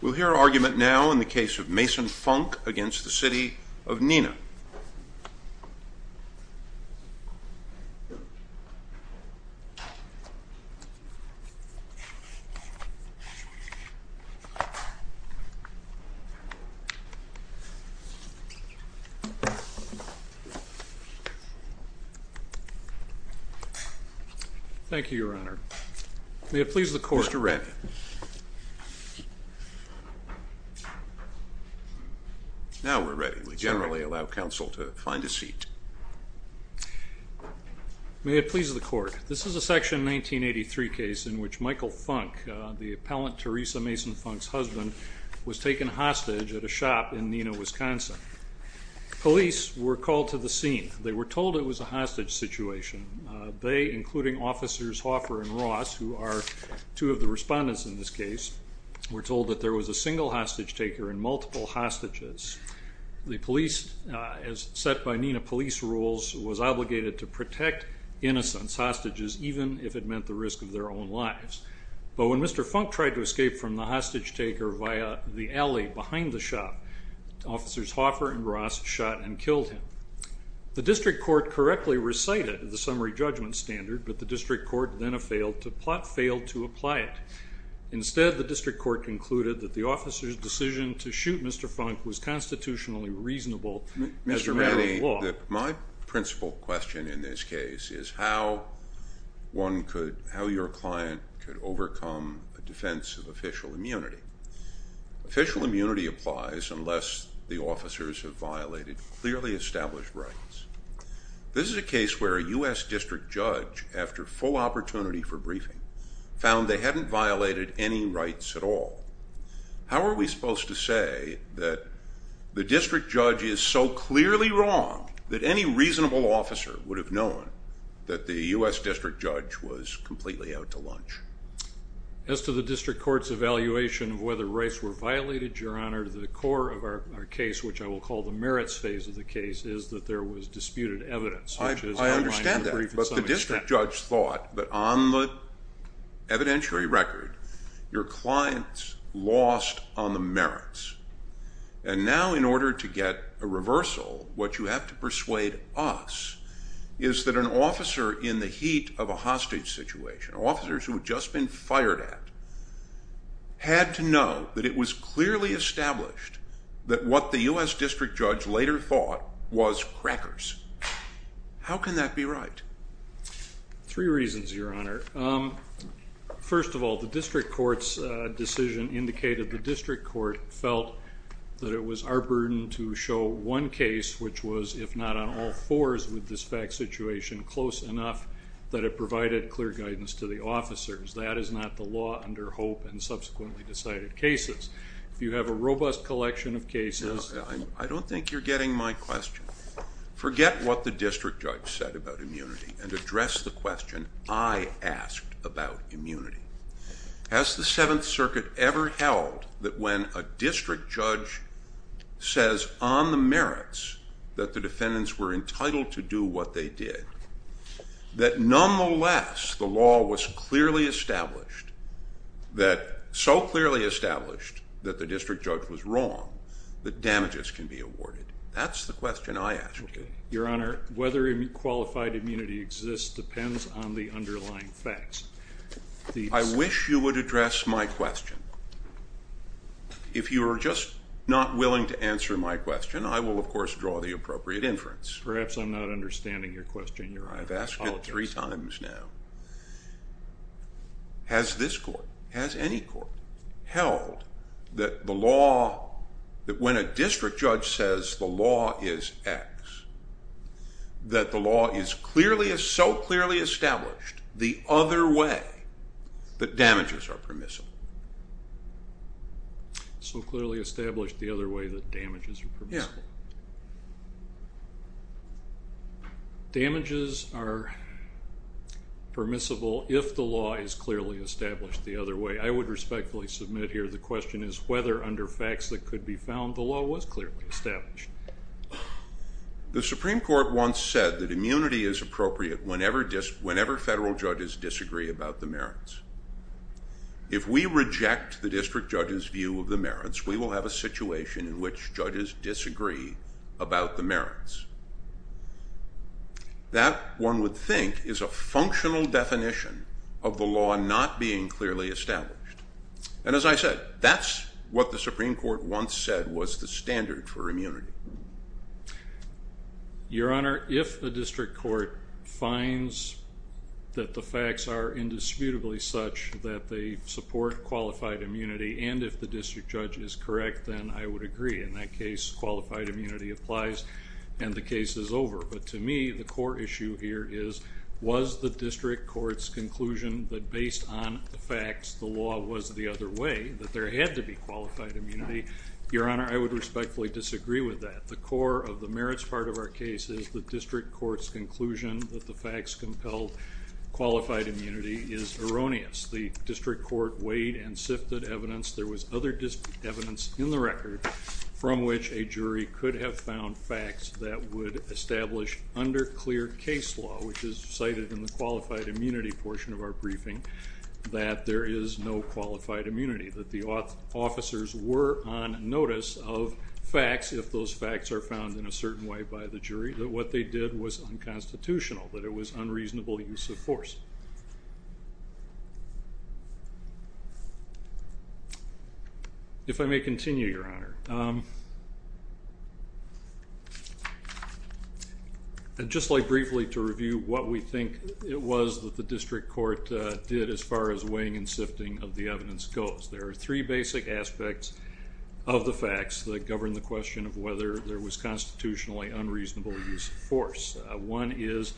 We'll hear argument now in the case of Mason-Funk v. City of Neenah. Thank you, Your Honor. May it please the Court. Mr. Reddin. Now we're ready. We generally allow counsel to find a seat. May it please the Court. This is a Section 1983 case in which Michael Funk, the appellant Teresa Mason-Funk's husband, was taken hostage at a shop in Neenah, Wisconsin. Police were called to the scene. They were told it was a hostage situation. They, including Officers Hoffer and Ross, who are two of the respondents in this case, were told that there was a single hostage taker and multiple hostages. The police, as set by Neenah police rules, was obligated to protect innocents, hostages, even if it meant the risk of their own lives. But when Mr. Funk tried to escape from the hostage taker via the alley behind the shop, Officers Hoffer and Ross shot and killed him. The District Court correctly recited the summary judgment standard, but the District Court then failed to apply it. Instead, the District Court concluded that the officer's decision to shoot Mr. Funk was constitutionally reasonable as a matter of law. Mr. Reddin, my principal question in this case is how one could, how your client could overcome a defense of official immunity. Official immunity applies unless the officers have violated clearly established rights. This is a case where a U.S. District Judge, after full opportunity for briefing, found they hadn't violated any rights at all. How are we supposed to say that the District Judge is so clearly wrong that any reasonable officer would have known that the U.S. District Judge was completely out to lunch? As to the District Court's evaluation of whether rights were violated, Your Honor, the core of our case, which I will call the merits phase of the case, is that there was disputed evidence. I understand that, but the District Judge thought that on the evidentiary record, your client lost on the merits. And now in order to get a reversal, what you have to persuade us is that an officer in the heat of a hostage situation, officers who have just been fired at, had to know that it was clearly established that what the U.S. District Judge later thought was crackers. How can that be right? Three reasons, Your Honor. First of all, the District Court's decision indicated the District Court felt that it was our burden to show one case, which was, if not on all fours with this fact situation, close enough that it provided clear guidance to the officers. That is not the law under Hope and subsequently decided cases. If you have a robust collection of cases... I don't think you're getting my question. Forget what the District Judge said about immunity and address the question I asked about immunity. Has the Seventh Circuit ever held that when a District Judge says on the merits that the defendants were entitled to do what they did, that nonetheless the law was clearly established, that so clearly established that the District Judge was wrong, that damages can be awarded? That's the question I asked you. Your Honor, whether qualified immunity exists depends on the underlying facts. I wish you would address my question. If you are just not willing to answer my question, I will, of course, draw the appropriate inference. Perhaps I'm not understanding your question, Your Honor. I've asked it three times now. Has this court, has any court held that the law, that when a District Judge says the law is X, that the law is so clearly established the other way that damages are permissible? So clearly established the other way that damages are permissible. Yeah. Damages are permissible if the law is clearly established the other way. I would respectfully submit here the question is whether, under facts that could be found, the law was clearly established. The Supreme Court once said that immunity is appropriate whenever federal judges disagree about the merits. If we reject the District Judge's view of the merits, we will have a situation in which judges disagree about the merits. That, one would think, is a functional definition of the law not being clearly established. And as I said, that's what the Supreme Court once said was the standard for immunity. Your Honor, if the District Court finds that the facts are indisputably such that they support qualified immunity and if the District Judge is correct, then I would agree. In that case, qualified immunity applies and the case is over. But to me, the core issue here is was the District Court's conclusion that based on the facts, the law was the other way, that there had to be qualified immunity? Your Honor, I would respectfully disagree with that. The core of the merits part of our case is the District Court's conclusion that the facts compelled qualified immunity is erroneous. The District Court weighed and sifted evidence. There was other evidence in the record from which a jury could have found facts that would establish under clear case law, which is cited in the qualified immunity portion of our briefing, that there is no qualified immunity, that the officers were on notice of facts if those facts are found in a certain way by the jury, that what they did was unconstitutional, that it was unreasonable use of force. If I may continue, Your Honor, I'd just like briefly to review what we think it was that the District Court did as far as weighing and sifting of the evidence goes. There are three basic aspects of the facts that govern the question of whether there was constitutionally unreasonable use of force. One is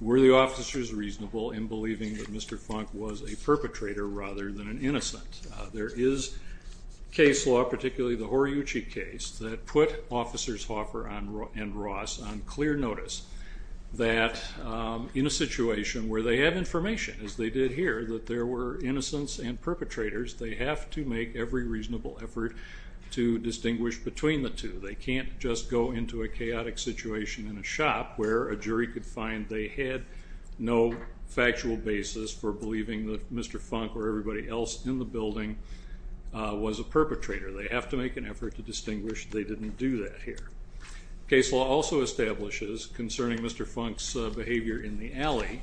were the officers reasonable in believing that Mr. Funk was a perpetrator rather than an innocent? There is case law, particularly the Horiyuchi case, that put Officers Hoffer and Ross on clear notice that in a situation where they have information, as they did here, that there were innocents and perpetrators, they have to make every reasonable effort to distinguish between the two. They can't just go into a chaotic situation in a shop where a jury could find they had no factual basis for believing that Mr. Funk or everybody else in the building was a perpetrator. They have to make an effort to distinguish they didn't do that here. Case law also establishes, concerning Mr. Funk's behavior in the alley,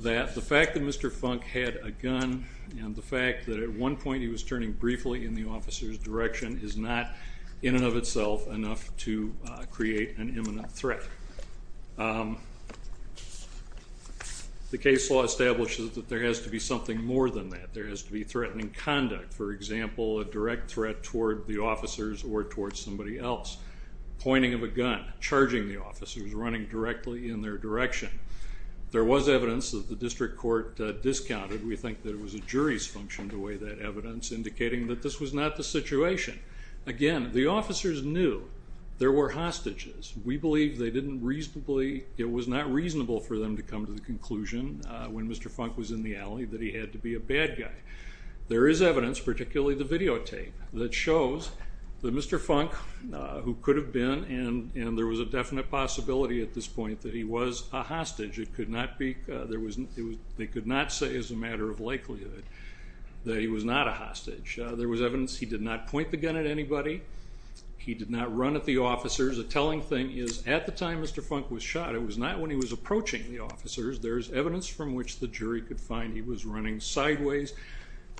that the fact that Mr. Funk had a gun and the fact that at one point he was turning briefly in the officer's direction is not in and of itself enough to create an imminent threat. The case law establishes that there has to be something more than that. There has to be threatening conduct, for example, a direct threat toward the officers or toward somebody else. Pointing of a gun, charging the officers, running directly in their direction. There was evidence that the district court discounted. We think that it was a jury's function to weigh that evidence, indicating that this was not the situation. Again, the officers knew there were hostages. We believe it was not reasonable for them to come to the conclusion, when Mr. Funk was in the alley, that he had to be a bad guy. There is evidence, particularly the videotape, that shows that Mr. Funk, who could have been and there was a definite possibility at this point that he was a hostage. They could not say as a matter of likelihood that he was not a hostage. There was evidence he did not point the gun at anybody. He did not run at the officers. A telling thing is at the time Mr. Funk was shot, it was not when he was approaching the officers. There is evidence from which the jury could find he was running sideways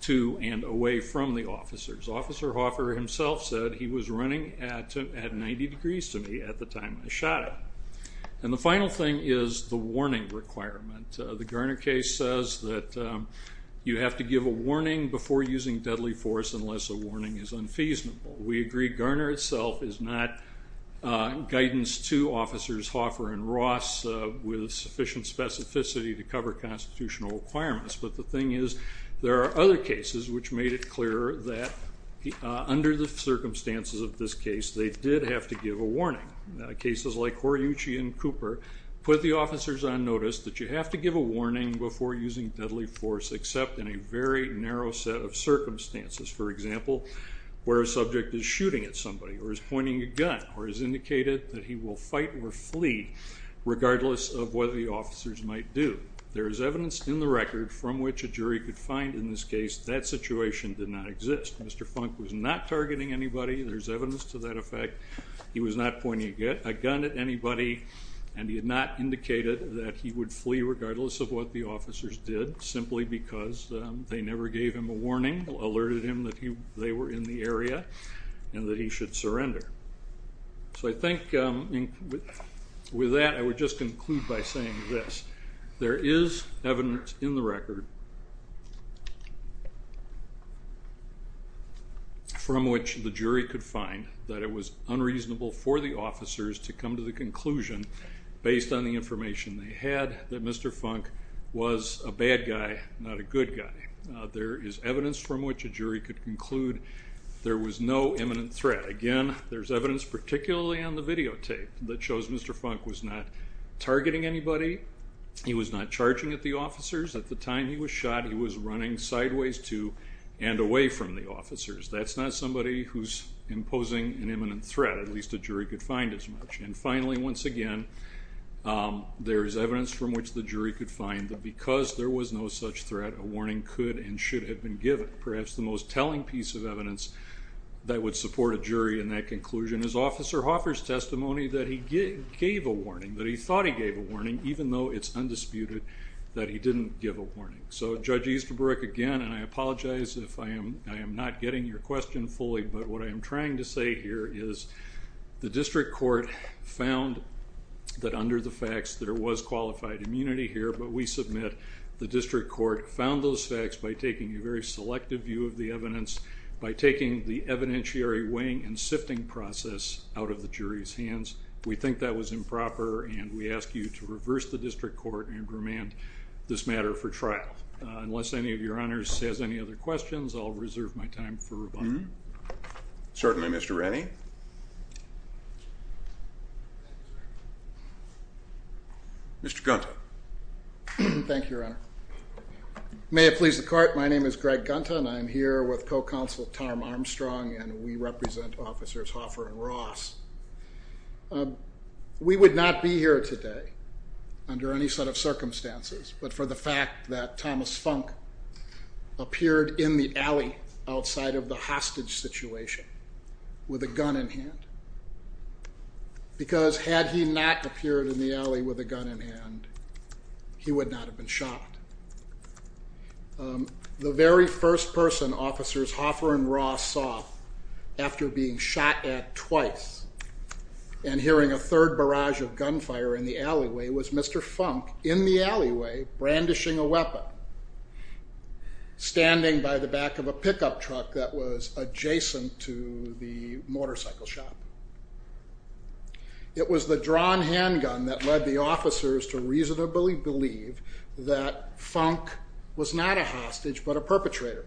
to and away from the officers. Officer Hoffer himself said, he was running at 90 degrees to me at the time I shot him. The final thing is the warning requirement. The Garner case says that you have to give a warning before using deadly force unless a warning is unfeasible. We agree Garner itself is not guidance to Officers Hoffer and Ross with sufficient specificity to cover constitutional requirements. But the thing is there are other cases which made it clear that under the circumstances of this case they did have to give a warning. Cases like Horiuchi and Cooper put the officers on notice that you have to give a warning before using deadly force except in a very narrow set of circumstances. For example, where a subject is shooting at somebody or is pointing a gun or has indicated that he will fight or flee regardless of what the officers might do. There is evidence in the record from which a jury could find in this case that situation did not exist. Mr. Funk was not targeting anybody. There is evidence to that effect. He was not pointing a gun at anybody and he had not indicated that he would flee regardless of what the officers did simply because they never gave him a warning, alerted him that they were in the area and that he should surrender. So I think with that I would just conclude by saying this. There is evidence in the record from which the jury could find that it was unreasonable for the officers to come to the conclusion based on the information they had that Mr. Funk was a bad guy, not a good guy. There is evidence from which a jury could conclude there was no imminent threat. Again, there is evidence particularly on the videotape that shows Mr. Funk was not targeting anybody. He was not charging at the officers. At the time he was shot, he was running sideways to and away from the officers. That's not somebody who's imposing an imminent threat, at least a jury could find as much. And finally, once again, there is evidence from which the jury could find that because there was no such threat, a warning could and should have been given, and perhaps the most telling piece of evidence that would support a jury in that conclusion is Officer Hoffer's testimony that he gave a warning, that he thought he gave a warning, even though it's undisputed that he didn't give a warning. So Judge Easterbrook, again, and I apologize if I am not getting your question fully, but what I am trying to say here is the district court found that under the facts there was qualified immunity here, but we submit the district court found those facts by taking a very selective view of the evidence, by taking the evidentiary weighing and sifting process out of the jury's hands. We think that was improper, and we ask you to reverse the district court and remand this matter for trial. Unless any of your honors has any other questions, I'll reserve my time for rebuttal. Certainly, Mr. Rennie. Mr. Gunther. Thank you, Your Honor. May it please the court, my name is Greg Gunther, and I am here with co-counsel Tom Armstrong, and we represent Officers Hoffer and Ross. We would not be here today under any set of circumstances but for the fact that Thomas Funk appeared in the alley outside of the hostage situation with a gun in hand because had he not appeared in the alley with a gun in hand, he would not have been shot. The very first person Officers Hoffer and Ross saw after being shot at twice and hearing a third barrage of gunfire in the alleyway was Mr. Funk in the alleyway brandishing a weapon, standing by the back of a pickup truck that was adjacent to the motorcycle shop. It was the drawn handgun that led the officers to reasonably believe that Funk was not a hostage but a perpetrator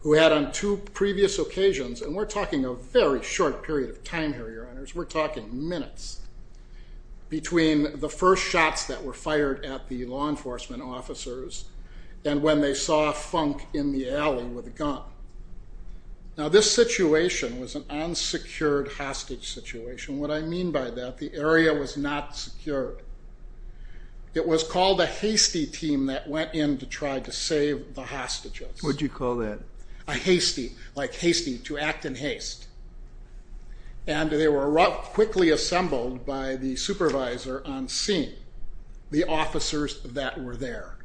who had on two previous occasions, and we're talking a very short period of time here, Your Honors, we're talking minutes, between the first shots that were fired at the law enforcement officers and when they saw Funk in the alley with a gun. Now this situation was an unsecured hostage situation. What I mean by that, the area was not secured. It was called a hasty team that went in to try to save the hostages. What did you call that? A hasty, like hasty, to act in haste. And they were quickly assembled by the supervisor on scene, the officers that were there.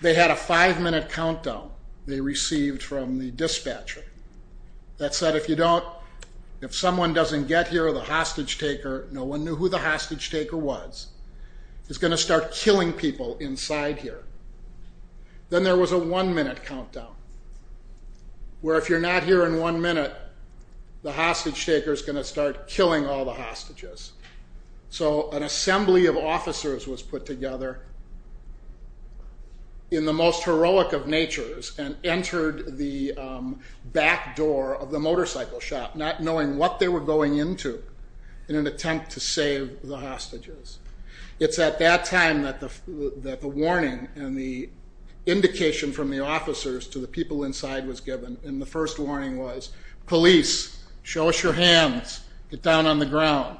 They had a five-minute countdown they received from the dispatcher that said, if you don't, if someone doesn't get here, the hostage taker, no one knew who the hostage taker was, is going to start killing people inside here. Then there was a one-minute countdown where if you're not here in one minute, the hostage taker is going to start killing all the hostages. So an assembly of officers was put together in the most heroic of natures and entered the back door of the motorcycle shop, not knowing what they were going into in an attempt to save the hostages. It's at that time that the warning and the indication from the officers to the people inside was given, and the first warning was, police, show us your hands, get down on the ground.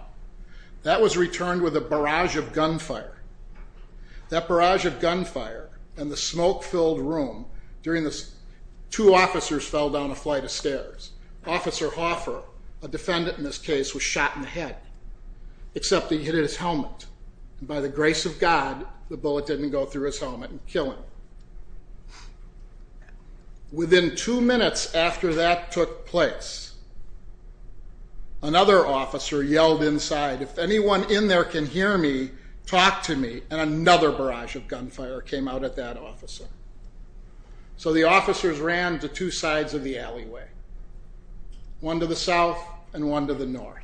That was returned with a barrage of gunfire. That barrage of gunfire and the smoke-filled room during this, two officers fell down a flight of stairs. Officer Hoffer, a defendant in this case, was shot in the head, except he hit his helmet, and by the grace of God, the bullet didn't go through his helmet and kill him. Within two minutes after that took place, another officer yelled inside, if anyone in there can hear me, talk to me, and another barrage of gunfire came out at that officer. So the officers ran to two sides of the alleyway, one to the south and one to the north.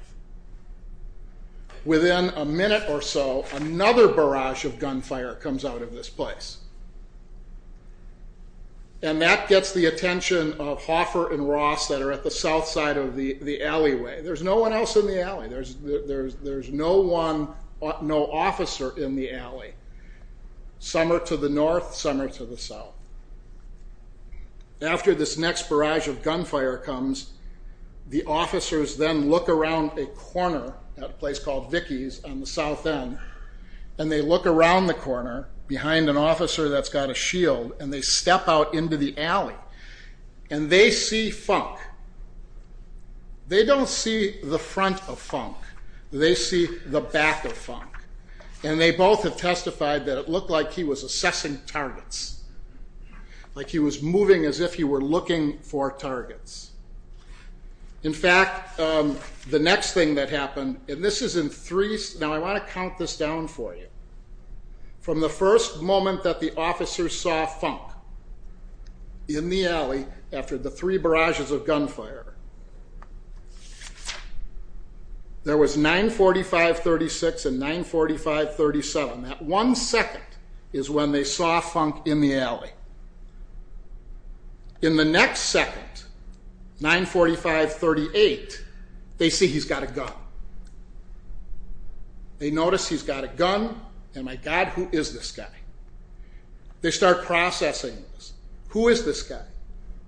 Within a minute or so, another barrage of gunfire comes out of this place, and that gets the attention of Hoffer and Ross that are at the south side of the alleyway. There's no one else in the alley. There's no officer in the alley, some are to the north, some are to the south. After this next barrage of gunfire comes, the officers then look around a corner at a place called Vickie's on the south end, and they look around the corner behind an officer that's got a shield, and they step out into the alley, and they see Funk. They don't see the front of Funk. They see the back of Funk, and they both have testified that it looked like he was assessing targets, like he was moving as if he were looking for targets. In fact, the next thing that happened, and this is in three— now I want to count this down for you. From the first moment that the officers saw Funk in the alley after the three barrages of gunfire, there was 945-36 and 945-37. That one second is when they saw Funk in the alley. In the next second, 945-38, they see he's got a gun. They notice he's got a gun, and my God, who is this guy? They start processing this. Who is this guy?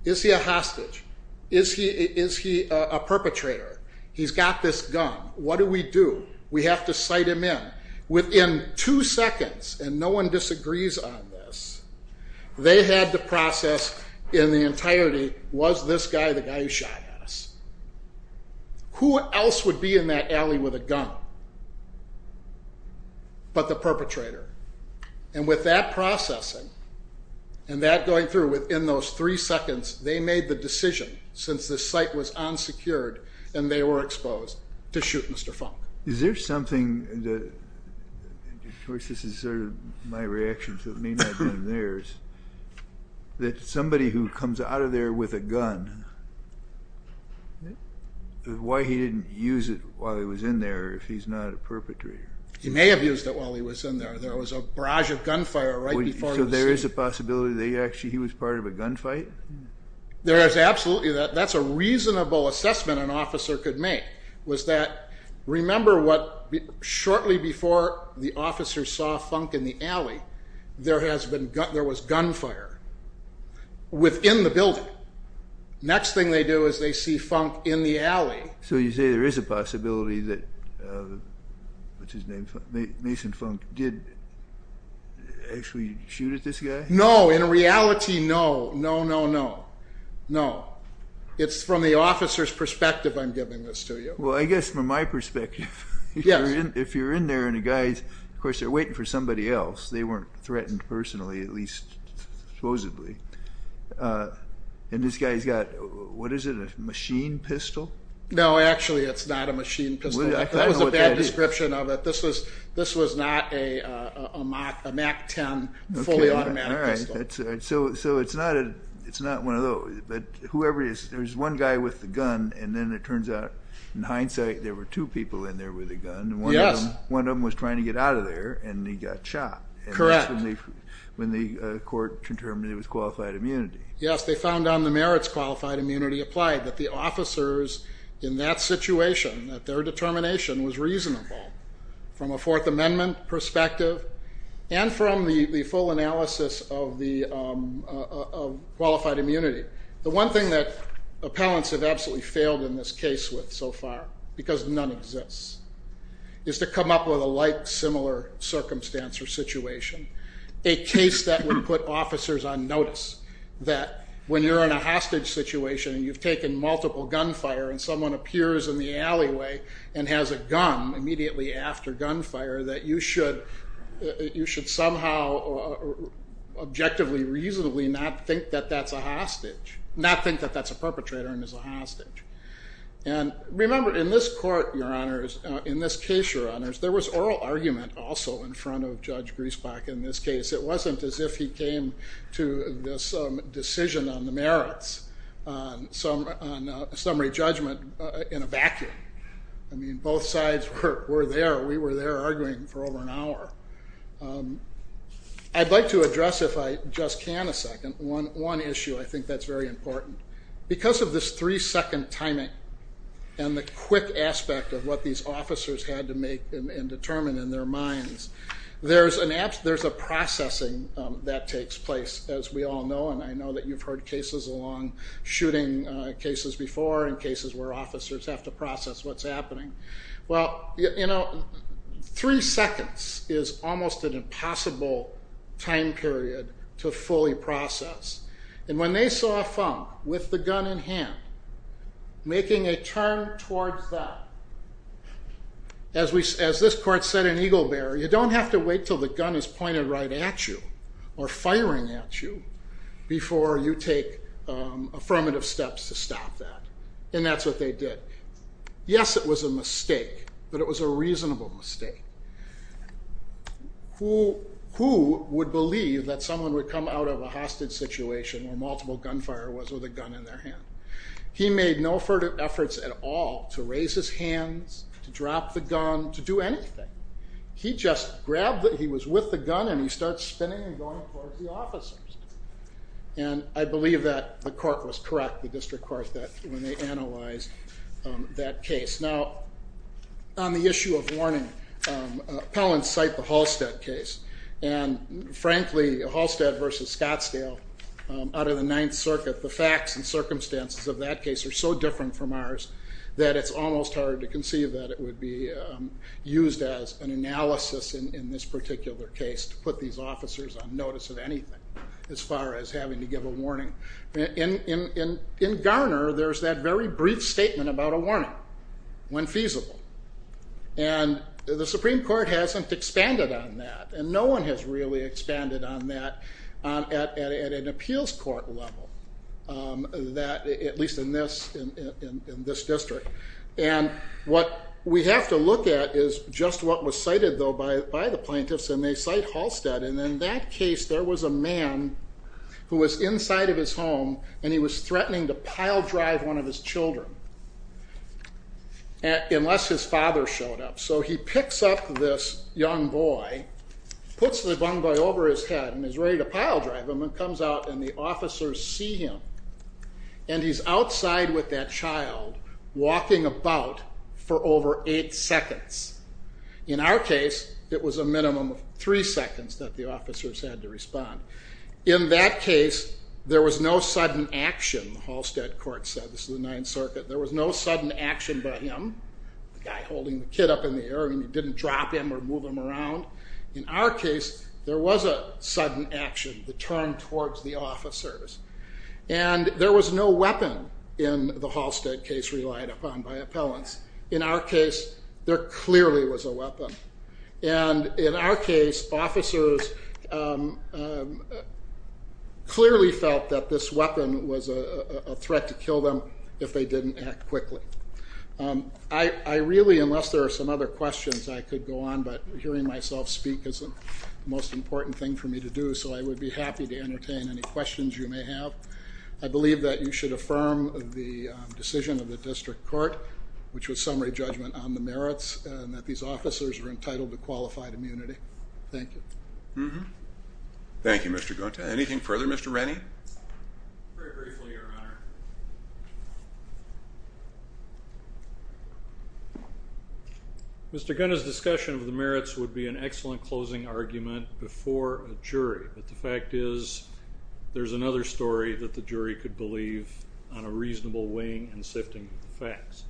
Is he a hostage? Is he a perpetrator? He's got this gun. What do we do? We have to cite him in. Within two seconds, and no one disagrees on this, they had to process in the entirety, was this guy the guy who shot at us? Who else would be in that alley with a gun but the perpetrator? And with that processing and that going through, within those three seconds, they made the decision, since this site was unsecured and they were exposed, to shoot Mr. Funk. Is there something that, of course, this is sort of my reaction, so it may not have been theirs, that somebody who comes out of there with a gun, why he didn't use it while he was in there if he's not a perpetrator? He may have used it while he was in there. There was a barrage of gunfire right before the scene. So there is a possibility that actually he was part of a gunfight? There is absolutely. That's a reasonable assessment an officer could make, was that remember what shortly before the officers saw Funk in the alley, there was gunfire within the building. Next thing they do is they see Funk in the alley. So you say there is a possibility that Mason Funk did actually shoot at this guy? No, in reality, no, no, no, no, no. It's from the officer's perspective I'm giving this to you. Well, I guess from my perspective, if you're in there and a guy, of course, they're waiting for somebody else. They weren't threatened personally, at least supposedly. And this guy's got, what is it, a machine pistol? No, actually it's not a machine pistol. That was a bad description of it. This was not a MAC-10 fully automatic pistol. So it's not one of those. But whoever it is, there's one guy with the gun, and then it turns out in hindsight there were two people in there with a gun. Yes. One of them was trying to get out of there, and he got shot. Correct. And that's when the court determined it was qualified immunity. Yes, they found on the merits qualified immunity applied, that the officers in that situation, that their determination was reasonable from a Fourth Amendment perspective and from the full analysis of qualified immunity. The one thing that appellants have absolutely failed in this case with so far, because none exists, is to come up with a like-similar circumstance or situation, a case that would put officers on notice, that when you're in a hostage situation and you've taken multiple gunfire and someone appears in the alleyway and has a gun immediately after gunfire, that you should somehow objectively, reasonably not think that that's a hostage, not think that that's a perpetrator and is a hostage. And remember, in this court, Your Honors, in this case, Your Honors, there was oral argument also in front of Judge Griesbach in this case. It wasn't as if he came to this decision on the merits, on a summary judgment in a vacuum. I mean, both sides were there. We were there arguing for over an hour. I'd like to address, if I just can a second, one issue. I think that's very important. Because of this three-second timing and the quick aspect of what these officers had to make and determine in their minds, there's a processing that takes place, as we all know, and I know that you've heard cases along shooting cases before and cases where officers have to process what's happening. Well, you know, three seconds is almost an impossible time period to fully process. And when they saw a thump with the gun in hand, making a turn towards that, as this court said in Eagle Bear, you don't have to wait until the gun is pointed right at you or firing at you before you take affirmative steps to stop that. And that's what they did. It was a mistake. Yes, it was a mistake, but it was a reasonable mistake. Who would believe that someone would come out of a hostage situation where multiple gunfire was with a gun in their hand? He made no further efforts at all to raise his hands, to drop the gun, to do anything. He just grabbed it. He was with the gun, and he starts spinning and going towards the officers. And I believe that the court was correct, the district court, when they analyzed that case. Now, on the issue of warning, appellants cite the Halstead case. And, frankly, Halstead v. Scottsdale out of the Ninth Circuit, the facts and circumstances of that case are so different from ours that it's almost hard to conceive that it would be used as an analysis in this particular case to put these officers on notice of anything as far as having to give a warning. In Garner, there's that very brief statement about a warning when feasible. And the Supreme Court hasn't expanded on that, and no one has really expanded on that at an appeals court level, at least in this district. And what we have to look at is just what was cited, though, by the plaintiffs, and they cite Halstead. And in that case, there was a man who was inside of his home, and he was threatening to pile drive one of his children, unless his father showed up. So he picks up this young boy, puts the young boy over his head, and is ready to pile drive him, and comes out, and the officers see him. And he's outside with that child, walking about for over eight seconds. In our case, it was a minimum of three seconds that the officers had to respond. In that case, there was no sudden action. The Halstead court said, this is the Ninth Circuit, there was no sudden action by him, the guy holding the kid up in the air, and he didn't drop him or move him around. In our case, there was a sudden action, the turn towards the officers. And there was no weapon in the Halstead case relied upon by appellants. In our case, there clearly was a weapon. And in our case, officers clearly felt that this weapon was a threat to kill them if they didn't act quickly. I really, unless there are some other questions, I could go on, but hearing myself speak is the most important thing for me to do, so I would be happy to entertain any questions you may have. I believe that you should affirm the decision of the district court, which was summary judgment on the merits, and that these officers were entitled to qualified immunity. Thank you. Thank you, Mr. Gunta. Anything further, Mr. Rennie? Very briefly, Your Honor. Mr. Gunta's discussion of the merits would be an excellent closing argument before a jury, but the fact is there's another story that the jury could believe on a reasonable weighing and sifting of facts.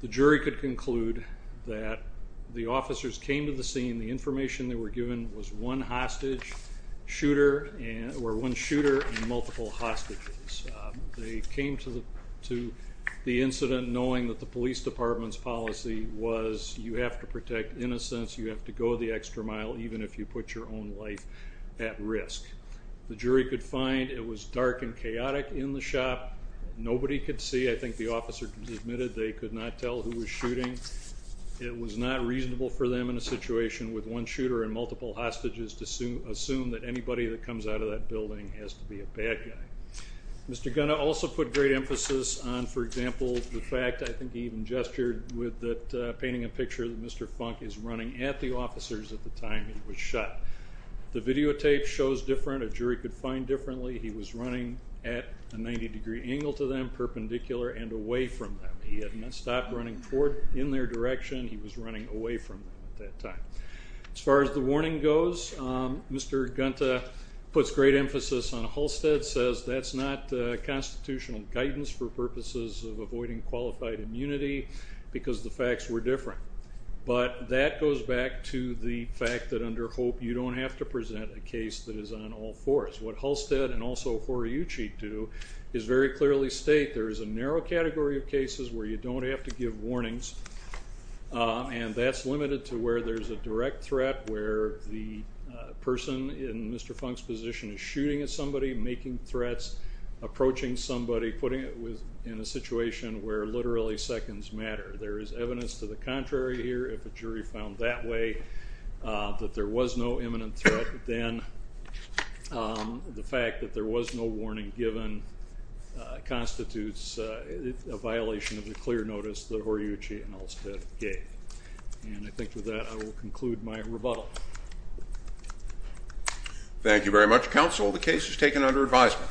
The jury could conclude that the officers came to the scene, the information they were given was one hostage shooter or one shooter and multiple hostages. They came to the incident knowing that the police department's policy was you have to protect innocents, you have to go the extra mile, even if you put your own life at risk. The jury could find it was dark and chaotic in the shop. Nobody could see. I think the officers admitted they could not tell who was shooting. It was not reasonable for them in a situation with one shooter and multiple hostages to assume that anybody that comes out of that building has to be a bad guy. Mr. Gunta also put great emphasis on, for example, the fact I think he even gestured with painting a picture that Mr. Funk is running at the officers at the time he was shot. The videotape shows different. A jury could find differently he was running at a 90-degree angle to them, perpendicular and away from them. He had not stopped running in their direction. He was running away from them at that time. As far as the warning goes, Mr. Gunta puts great emphasis on Halstead, says that's not constitutional guidance for purposes of avoiding qualified immunity because the facts were different. But that goes back to the fact that under HOPE you don't have to present a case that is on all fours. What Halstead and also Horiyuchi do is very clearly state there is a narrow category of cases where you don't have to give warnings, and that's limited to where there's a direct threat, where the person in Mr. Funk's position is shooting at somebody, making threats, approaching somebody, putting it in a situation where literally seconds matter. There is evidence to the contrary here. If a jury found that way, that there was no imminent threat, then the fact that there was no warning given constitutes a violation of the clear notice that Horiyuchi and Halstead gave. And I think with that I will conclude my rebuttal. Thank you very much, Counsel. The case is taken under advisement.